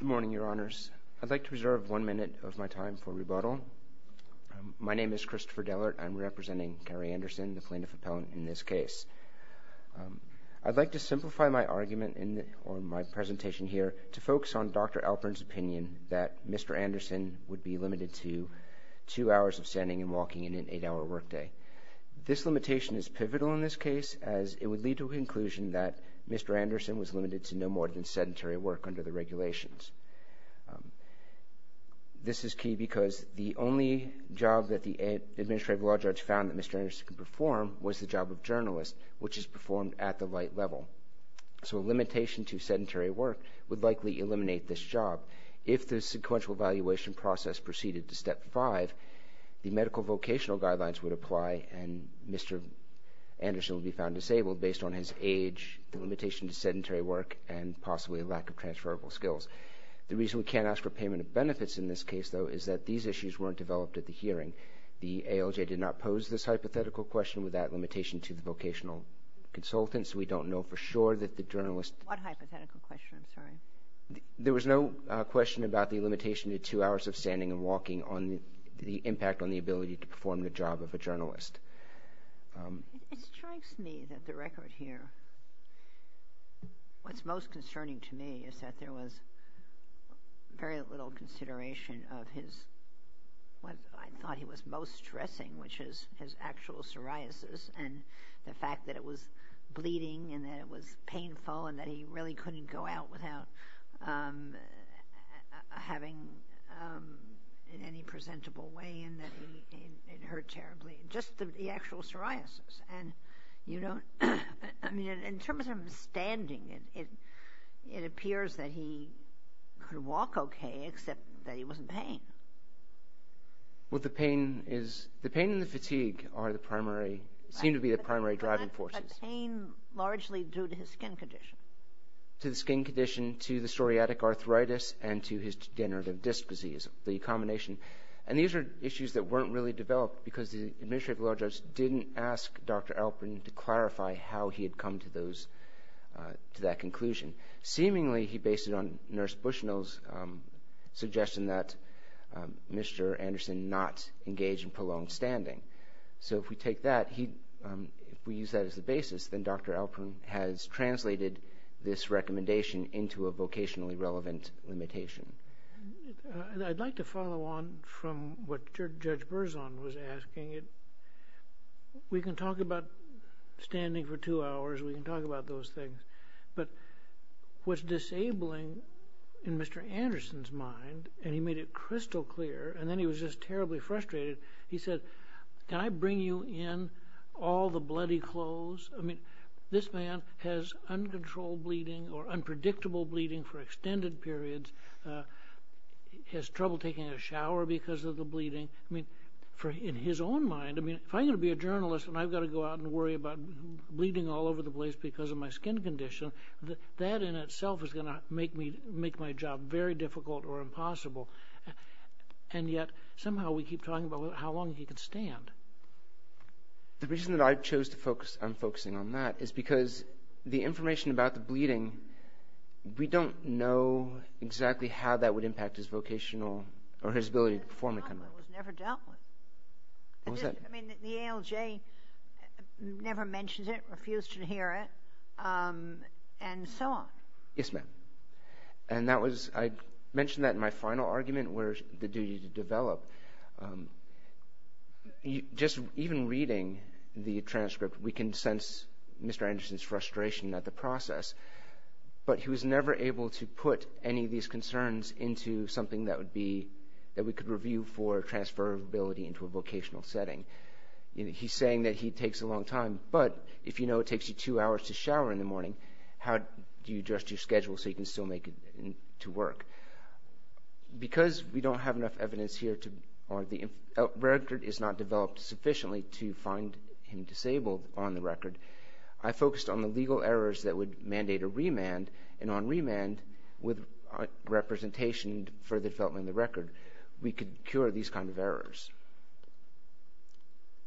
Good morning, Your Honors. I'd like to reserve one minute of my time for rebuttal. My name is Christopher Dellert. I'm representing Cary Anderson, the plaintiff appellant, in this case. I'd like to simplify my argument or my presentation here to focus on Dr. Alpern's opinion that Mr. Anderson would be limited to two hours of standing and walking and an eight-hour workday. This limitation is pivotal in this case as it would lead to a conclusion that Mr. Anderson was limited to no more than sedentary work under the regulations. This is key because the only job that the administrative law judge found that Mr. Anderson could perform was the job of journalist, which is performed at the light level. So a limitation to sedentary work would likely eliminate this job. If the sequential evaluation process proceeded to Step 5, the medical vocational guidelines would apply and Mr. Anderson would be found disabled based on his age, the limitation to sedentary work, and possibly a lack of transferable skills. The reason we can't ask for payment of benefits in this case, though, is that these issues weren't developed at the hearing. The ALJ did not pose this hypothetical question with that limitation to the vocational consultants. We don't know for sure that the journalist... What hypothetical question? I'm sorry. There was no question about the limitation to two hours of standing and walking on the impact on the ability to perform the job of a journalist. It strikes me that the record here, what's most concerning to me is that there was very little consideration of his, what I thought he was most stressing, which is his actual psoriasis and the fact that it was bleeding and that it was painful and that he really couldn't go out without having, in any presentable way, and that it hurt terribly. Just the actual psoriasis. And you don't, I mean, in terms of him standing, it appears that he could walk okay except that he was in pain. Well, the pain is, the pain and the fatigue are the primary, seem to be the primary driving forces. The pain largely due to his skin condition. To the skin condition, to the psoriatic arthritis, and to his degenerative disc disease, the combination. And these are issues that weren't really developed because the administrative law judge didn't ask Dr. Alperin to clarify how he had come to those, to that conclusion. Seemingly, he based it on Nurse Bushnell's suggestion that Mr. Anderson not engage in prolonged standing. So if we take that, if we use that as the basis, then Dr. Alperin has translated this recommendation into a vocationally relevant limitation. I'd like to follow on from what Judge Berzon was asking. We can talk about standing for two hours. We can talk about those things. But what's disabling in Mr. Anderson's mind, and he made it crystal clear, and then he was just terribly frustrated, he said, can I bring you in all the bloody clothes? I mean, this man has uncontrolled bleeding or unpredictable bleeding for extended periods. He has trouble taking a shower because of the bleeding. I mean, in his own mind, if I'm going to be a journalist and I've got to go out and worry about bleeding all over the place because of my skin condition, that in itself is going to make my job very difficult or impossible. And yet somehow we keep talking about how long he can stand. The reason that I chose to focus on focusing on that is because the information about the bleeding, we don't know exactly how that would impact his vocational or his ability to perform the kind of work. It was never dealt with. What was that? I mean, the ALJ never mentioned it, refused to hear it, and so on. Yes, ma'am. I mentioned that in my final argument where the duty to develop. Just even reading the transcript, we can sense Mr. Anderson's frustration at the process, but he was never able to put any of these concerns into something that would be, that we could review for transferability into a vocational setting. He's saying that he takes a long time, but if you know it takes you two hours to shower in the morning, how do you adjust your schedule so you can still make it to work? Because we don't have enough evidence here, or the record is not developed sufficiently to find him disabled on the record, I focused on the legal errors that would mandate a remand, and on remand, with representation for the development of the record, we could cure these kind of errors.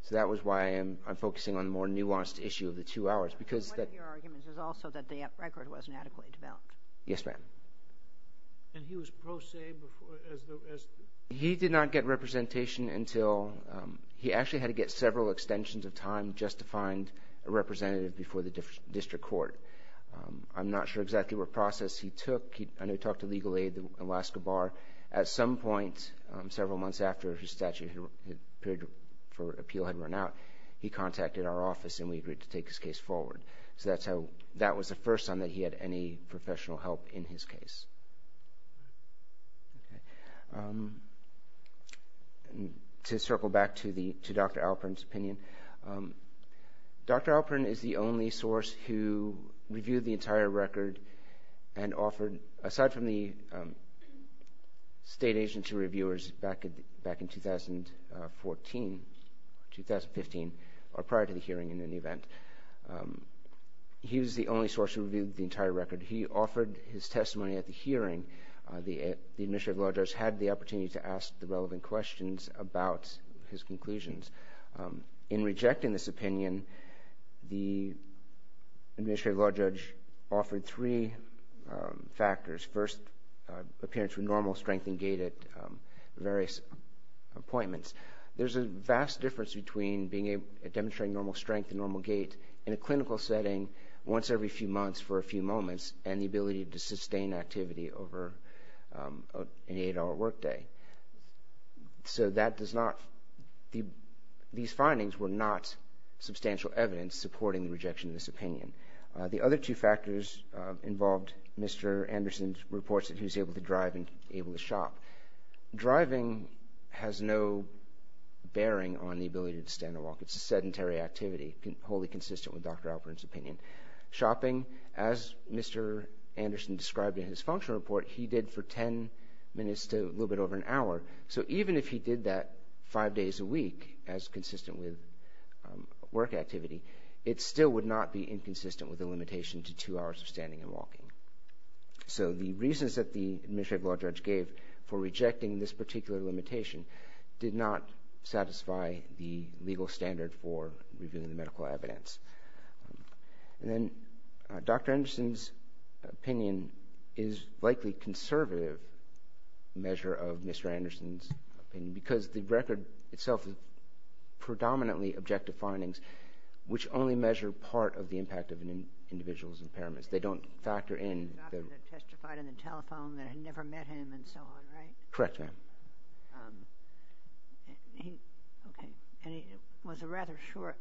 So that was why I'm focusing on the more nuanced issue of the two hours. One of your arguments is also that the record wasn't adequately developed. Yes, ma'am. And he was pro se before? He did not get representation until, he actually had to get several extensions of time just to find a representative before the district court. I'm not sure exactly what process he took. I know he talked to legal aid in Alaska Bar. At some point, several months after his statute for appeal had run out, he contacted our office and we agreed to take his case forward. So that was the first time that he had any professional help in his case. Okay. To circle back to Dr. Alperin's opinion, Dr. Alperin is the only source who reviewed the entire record and offered, aside from the state agency reviewers back in 2014, 2015, or prior to the hearing in any event, he was the only source who reviewed the entire record. He offered his testimony at the hearing. The administrative law judge had the opportunity to ask the relevant questions about his conclusions. In rejecting this opinion, the administrative law judge offered three factors. First, appearance with normal strength and gait at various appointments. There's a vast difference between demonstrating normal strength and normal gait in a clinical setting once every few months for a few moments, and the ability to sustain activity over an eight-hour workday. So these findings were not substantial evidence supporting the rejection of this opinion. The other two factors involved Mr. Anderson's reports that he was able to drive and able to shop. Driving has no bearing on the ability to stand or walk. It's a sedentary activity, wholly consistent with Dr. Alperin's opinion. Shopping, as Mr. Anderson described in his functional report, he did for ten minutes to a little bit over an hour. So even if he did that five days a week, as consistent with work activity, it still would not be inconsistent with the limitation to two hours of standing and walking. So the reasons that the administrative law judge gave for rejecting this particular limitation did not satisfy the legal standard for reviewing the medical evidence. And then Dr. Anderson's opinion is likely a conservative measure of Mr. Anderson's opinion because the record itself is predominantly objective findings which only measure part of the impact of an individual's impairments. They don't factor in... The doctor that testified on the telephone that had never met him and so on, right? Correct, ma'am. Okay, and he was rather short.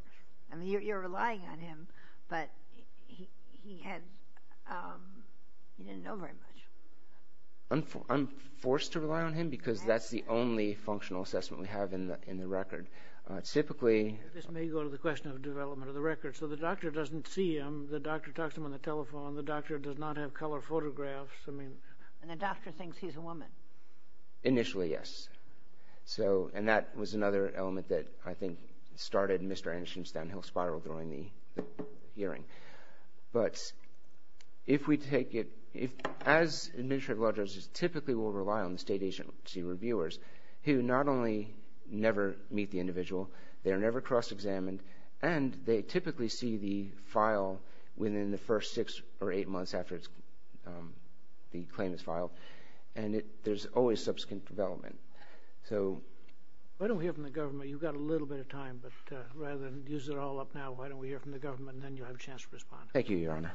I mean, you're relying on him, but he didn't know very much. I'm forced to rely on him because that's the only functional assessment we have in the record. Typically... This may go to the question of development of the record. So the doctor doesn't see him, the doctor talks to him on the telephone, the doctor does not have color photographs, I mean... And the doctor thinks he's a woman. Initially, yes. And that was another element that I think started Mr. Anderson's downhill spiral during the hearing. But if we take it... As administrative law judges typically will rely on the state agency reviewers who not only never meet the individual, they're never cross-examined, and they typically see the file within the first six or eight months after the claim is filed, and there's always subsequent development. So... Why don't we hear from the government? You've got a little bit of time, but rather than use it all up now, why don't we hear from the government and then you'll have a chance to respond. Thank you, Your Honor.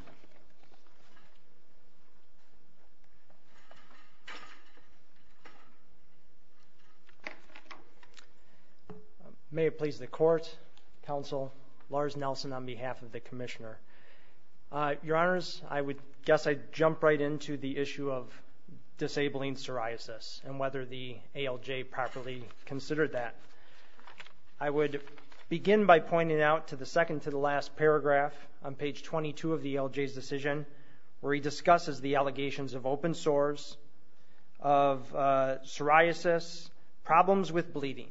May it please the court, counsel, Lars Nelson on behalf of the commissioner. Your Honors, I would guess I'd jump right into the issue of disabling psoriasis and whether the ALJ properly considered that. I would begin by pointing out to the second to the last paragraph on page 22 of the ALJ's decision where he discusses the allegations of open sores, of psoriasis, problems with bleeding.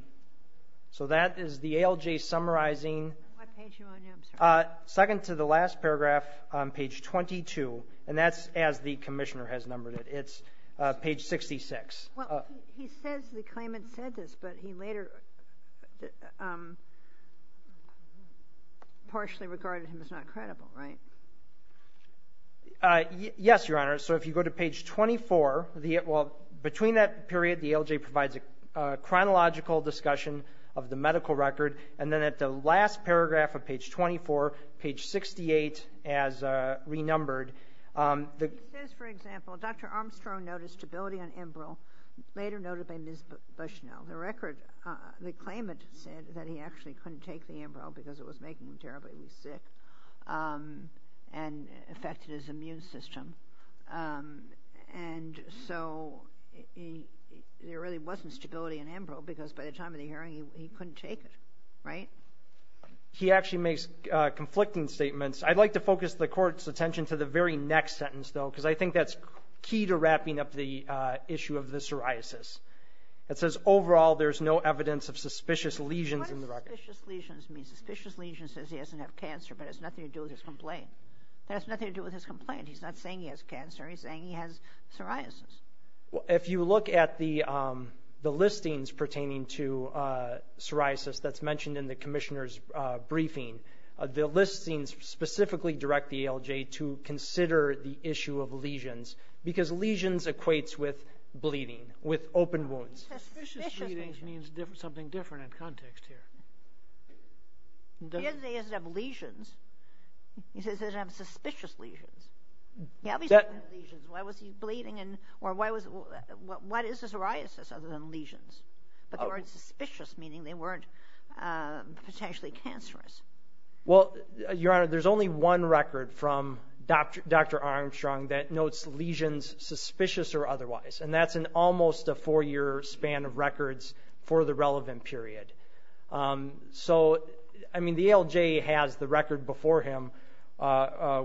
So that is the ALJ summarizing... What page are you on now, sir? Second to the last paragraph on page 22, and that's as the commissioner has numbered it. It's page 66. Well, he says the claimant said this, but he later partially regarded him as not credible, right? Yes, Your Honor. So if you go to page 24, well, between that period, the ALJ provides a chronological discussion of the medical record, and then at the last paragraph of page 24, page 68, as renumbered... He says, for example, Dr. Armstrong noticed stability on embryo, later noted by Ms. Bushnell. The record, the claimant said that he actually couldn't take the embryo because it was making him terribly sick and affected his immune system. And so there really wasn't stability in embryo because by the time of the hearing, he couldn't take it, right? He actually makes conflicting statements. I'd like to focus the Court's attention to the very next sentence, though, because I think that's key to wrapping up the issue of the psoriasis. It says, overall, there's no evidence of suspicious lesions in the record. What does suspicious lesions mean? Suspicious lesions says he doesn't have cancer, but it has nothing to do with his complaint. It has nothing to do with his complaint. He's not saying he has cancer. He's saying he has psoriasis. If you look at the listings pertaining to psoriasis that's mentioned in the Commissioner's briefing, the listings specifically direct the ALJ to consider the issue of lesions because lesions equates with bleeding, with open wounds. Suspicious bleeding means something different in context here. He doesn't say he doesn't have lesions. He says he doesn't have suspicious lesions. He obviously doesn't have lesions. Why was he bleeding, or what is a psoriasis other than lesions? But they weren't suspicious, meaning they weren't potentially cancerous. Well, Your Honor, there's only one record from Dr. Armstrong that notes lesions suspicious or otherwise, and that's in almost a four-year span of records for the relevant period. So, I mean, the ALJ has the record before him,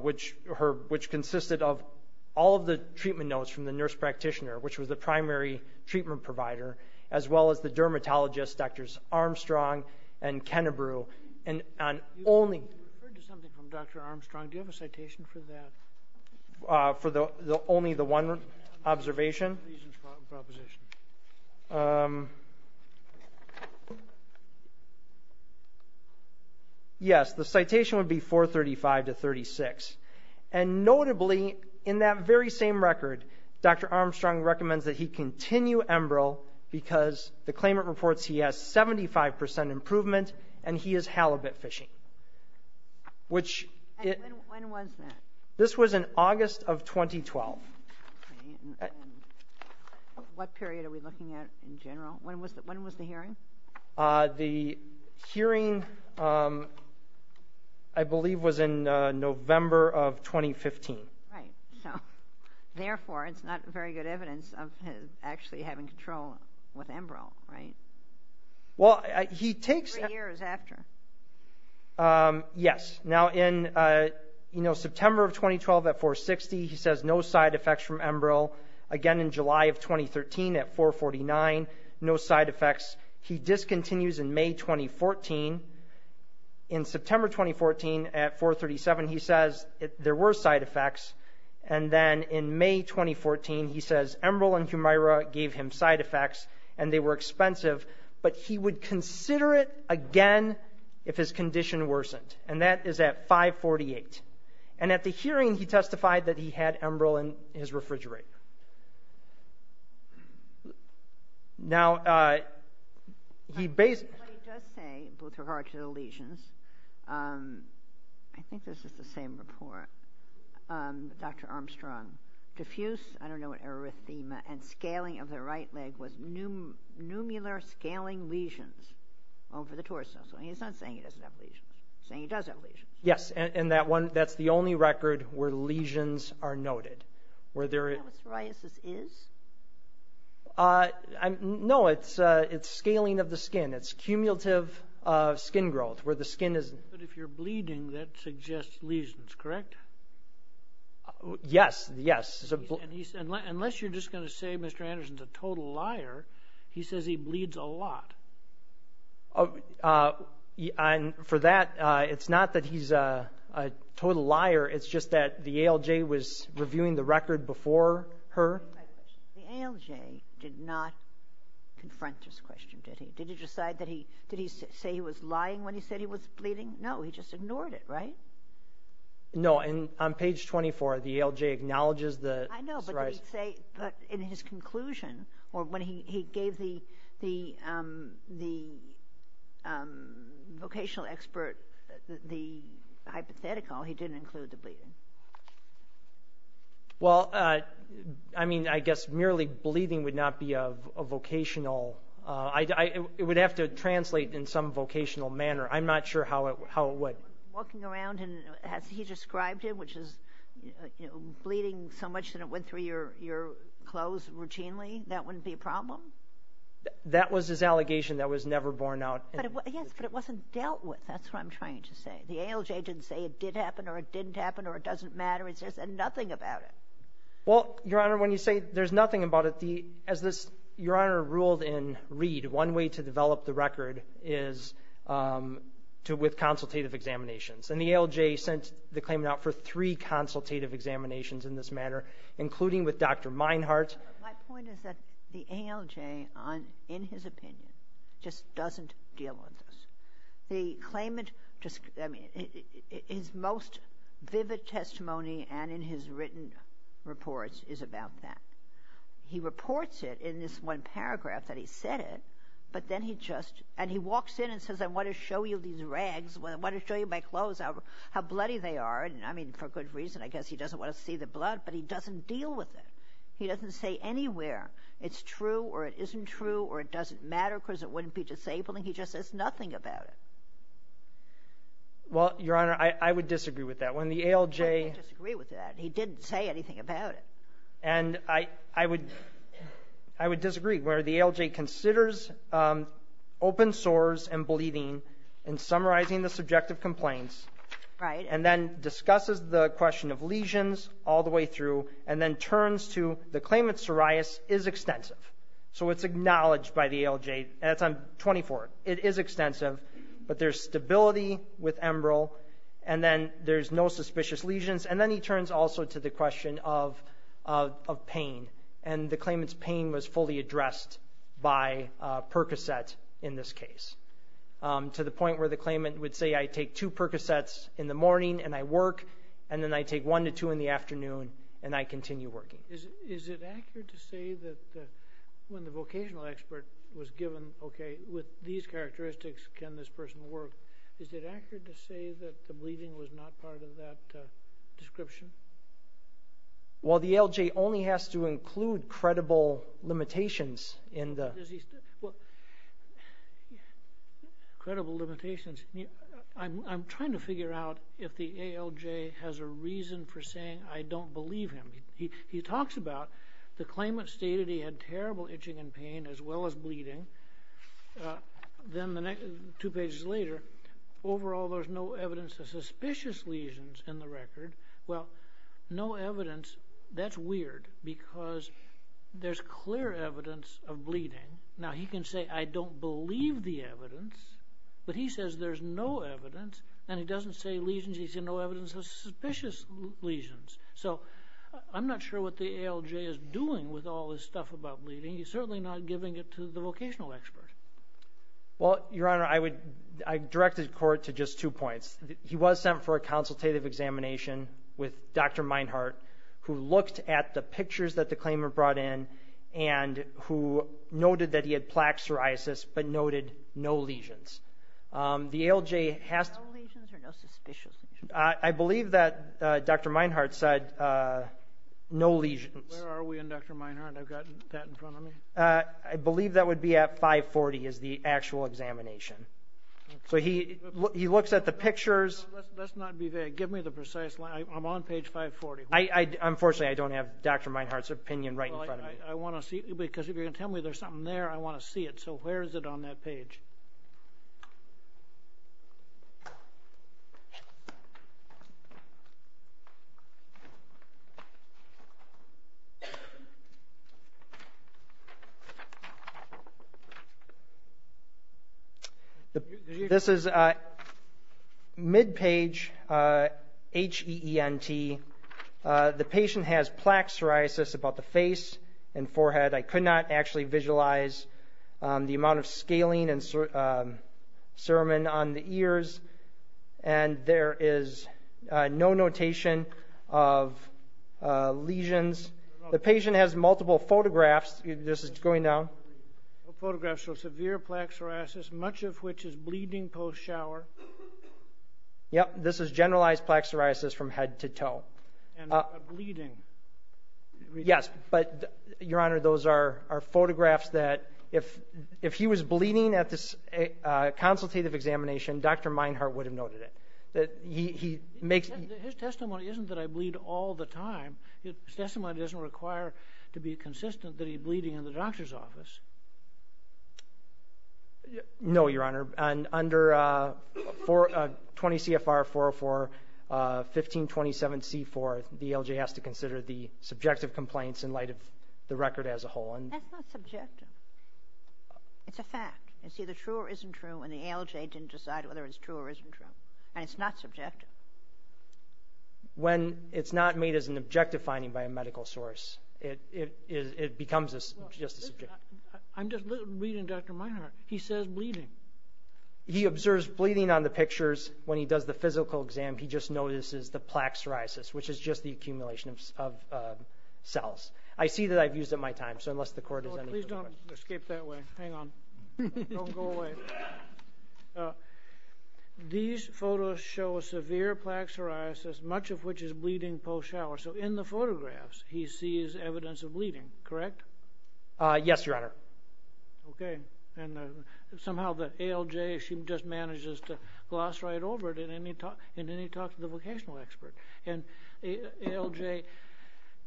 which consisted of all of the treatment notes from the nurse practitioner, which was the primary treatment provider, as well as the dermatologists, Drs. Armstrong and Kennebrew. You referred to something from Dr. Armstrong. Do you have a citation for that? For only the one observation? Yes, the citation would be 435 to 36. And notably, in that very same record, Dr. Armstrong recommends that he continue embryo because the claimant reports he has 75% improvement and he is halibut fishing. And when was that? This was in August of 2012. Okay. What period are we looking at in general? When was the hearing? The hearing, I believe, was in November of 2015. Right. So, therefore, it's not very good evidence of him actually having control with embryo, right? Three years after. Yes. Now, in, you know, September of 2012 at 460, he says no side effects from embryo. Again, in July of 2013 at 449, no side effects. He discontinues in May 2014. In September 2014 at 437, he says there were side effects. And then in May 2014, he says embryo and Humira gave him side effects and they were expensive, but he would consider it again if his condition worsened. And that is at 548. And at the hearing, he testified that he had embryo in his refrigerator. Now, he basically... What he does say with regard to the lesions, I think this is the same report, Dr. Armstrong, diffuse, I don't know what, erythema and scaling of the right leg was numular scaling lesions over the torso. He's not saying he doesn't have lesions. He's saying he does have lesions. Yes, and that's the only record where lesions are noted. Is that what psoriasis is? No, it's scaling of the skin. It's cumulative skin growth where the skin is... But if you're bleeding, that suggests lesions, correct? Yes, yes. Unless you're just going to say Mr. Anderson's a total liar, he says he bleeds a lot. For that, it's not that he's a total liar. It's just that the ALJ was reviewing the record before her. The ALJ did not confront this question, did he? Did he say he was lying when he said he was bleeding? No, he just ignored it, right? No, and on page 24, the ALJ acknowledges the psoriasis. I know, but in his conclusion, or when he gave the vocational expert the hypothetical, he didn't include the bleeding. Well, I mean, I guess merely bleeding would not be a vocational. It would have to translate in some vocational manner. I'm not sure how it would. Walking around, as he described it, which is bleeding so much that it went through your clothes routinely, that wouldn't be a problem? That was his allegation that was never borne out. Yes, but it wasn't dealt with. That's what I'm trying to say. The ALJ didn't say it did happen or it didn't happen or it doesn't matter. It says nothing about it. Well, Your Honor, when you say there's nothing about it, as Your Honor ruled in Reed, one way to develop the record is with consultative examinations. And the ALJ sent the claimant out for three consultative examinations in this matter, including with Dr. Meinhart. My point is that the ALJ, in his opinion, just doesn't deal with this. The claimant, I mean, his most vivid testimony and in his written reports is about that. He reports it in this one paragraph that he said it, but then he just, and he walks in and says, I want to show you these rags, I want to show you my clothes, how bloody they are. And, I mean, for good reason, I guess he doesn't want to see the blood, but he doesn't deal with it. He doesn't say anywhere it's true or it isn't true or it doesn't matter because it wouldn't be disabling. He just says nothing about it. Well, Your Honor, I would disagree with that. When the ALJ. I would disagree with that. He didn't say anything about it. And I would disagree where the ALJ considers open sores and bleeding and summarizing the subjective complaints. Right. And then discusses the question of lesions all the way through and then turns to the claimant's psoriasis is extensive. So it's acknowledged by the ALJ. That's on 24. It is extensive. But there's stability with emerald. And then there's no suspicious lesions. And then he turns also to the question of pain. And the claimant's pain was fully addressed by Percocet in this case to the point where the claimant would say, I take two Percocets in the morning and I work. And then I take one to two in the afternoon and I continue working. Is it accurate to say that when the vocational expert was given, okay, with these characteristics, can this person work? Is it accurate to say that the bleeding was not part of that description? Well, the ALJ only has to include credible limitations in the. Credible limitations. I'm trying to figure out if the ALJ has a reason for saying I don't believe him. He talks about the claimant stated he had terrible itching and pain as well as bleeding. Then the next two pages later, overall there's no evidence of suspicious lesions in the record. Well, no evidence. That's weird because there's clear evidence of bleeding. Now, he can say I don't believe the evidence. But he says there's no evidence. And he doesn't say lesions. He said no evidence of suspicious lesions. So I'm not sure what the ALJ is doing with all this stuff about bleeding. I mean, he's certainly not giving it to the vocational expert. Well, Your Honor, I would direct the court to just two points. He was sent for a consultative examination with Dr. Meinhardt who looked at the pictures that the claimant brought in and who noted that he had plaque psoriasis but noted no lesions. The ALJ has to. No lesions or no suspicious lesions? I believe that Dr. Meinhardt said no lesions. Where are we in Dr. Meinhardt? I've got that in front of me. I believe that would be at 540 is the actual examination. So he looks at the pictures. Let's not be vague. Give me the precise line. I'm on page 540. Unfortunately, I don't have Dr. Meinhardt's opinion right in front of me. Because if you're going to tell me there's something there, I want to see it. So where is it on that page? This is mid-page H-E-E-N-T. The patient has plaque psoriasis about the face and forehead. I could not actually visualize the amount of scalene and cerumen on the ears. And there is no notation of lesions. The patient has multiple photographs. This is going down. Photographs of severe plaque psoriasis, much of which is bleeding post-shower. Yep, this is generalized plaque psoriasis from head to toe. And bleeding. Yes, but, Your Honor, those are photographs that if he was bleeding at this consultative examination, Dr. Meinhardt would have noted it. His testimony isn't that I bleed all the time. His testimony doesn't require to be consistent that he's bleeding in the doctor's office. No, Your Honor. Under 20 CFR 404, 1527C4, the ALJ has to consider the subjective complaints in light of the record as a whole. That's not subjective. It's a fact. It's either true or isn't true, and the ALJ didn't decide whether it's true or isn't true. And it's not subjective. When it's not made as an objective finding by a medical source, it becomes just a subject. I'm just reading Dr. Meinhardt. He says bleeding. He observes bleeding on the pictures. When he does the physical exam, he just notices the plaque psoriasis, which is just the accumulation of cells. I see that I've used up my time, so unless the Court has any further questions. I'll escape that way. Hang on. Don't go away. These photos show a severe plaque psoriasis, much of which is bleeding post-shower. So in the photographs, he sees evidence of bleeding, correct? Yes, Your Honor. Okay. And somehow the ALJ, she just manages to gloss right over it in any talk to the vocational expert. And ALJ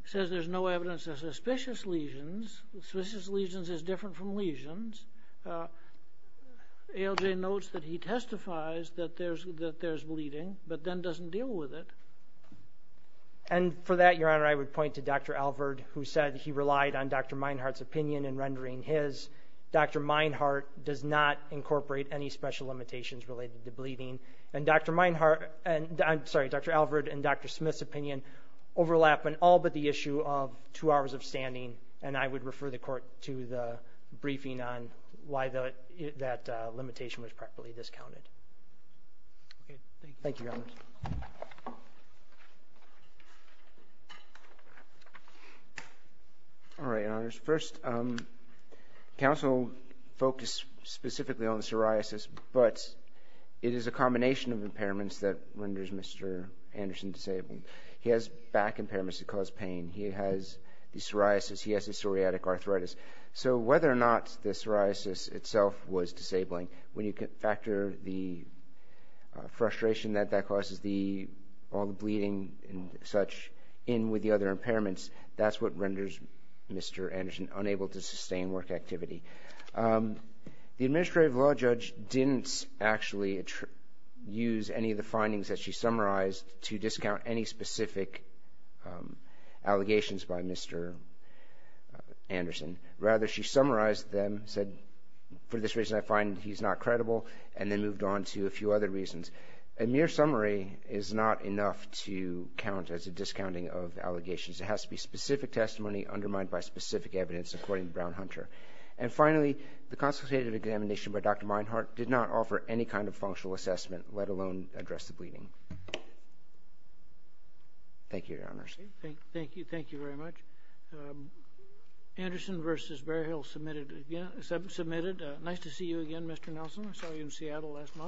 says there's no evidence of suspicious lesions. Suspicious lesions is different from lesions. ALJ notes that he testifies that there's bleeding, but then doesn't deal with it. And for that, Your Honor, I would point to Dr. Alvord, who said he relied on Dr. Meinhardt's opinion in rendering his. Dr. Meinhardt does not incorporate any special limitations related to bleeding. And Dr. Alvord and Dr. Smith's opinion overlap on all but the issue of two hours of standing, and I would refer the court to the briefing on why that limitation was properly discounted. Thank you, Your Honor. All right, Your Honors. First, counsel focused specifically on psoriasis, but it is a combination of impairments that renders Mr. Anderson disabled. He has back impairments that cause pain. He has psoriasis. He has psoriatic arthritis. So whether or not the psoriasis itself was disabling, when you factor the frustration that that causes all the bleeding and such in with the other impairments, that's what renders Mr. Anderson unable to sustain work activity. The administrative law judge didn't actually use any of the findings that she summarized to discount any specific allegations by Mr. Anderson. Rather, she summarized them, said, for this reason I find he's not credible, and then moved on to a few other reasons. A mere summary is not enough to count as a discounting of allegations. It has to be specific testimony undermined by specific evidence, according to Brown-Hunter. And finally, the consultative examination by Dr. Meinhardt did not offer any kind of functional assessment, let alone address the bleeding. Thank you, Your Honors. Thank you. Thank you very much. Anderson v. Bearhill, submitted. Nice to see you again, Mr. Nelson. I saw you in Seattle last month.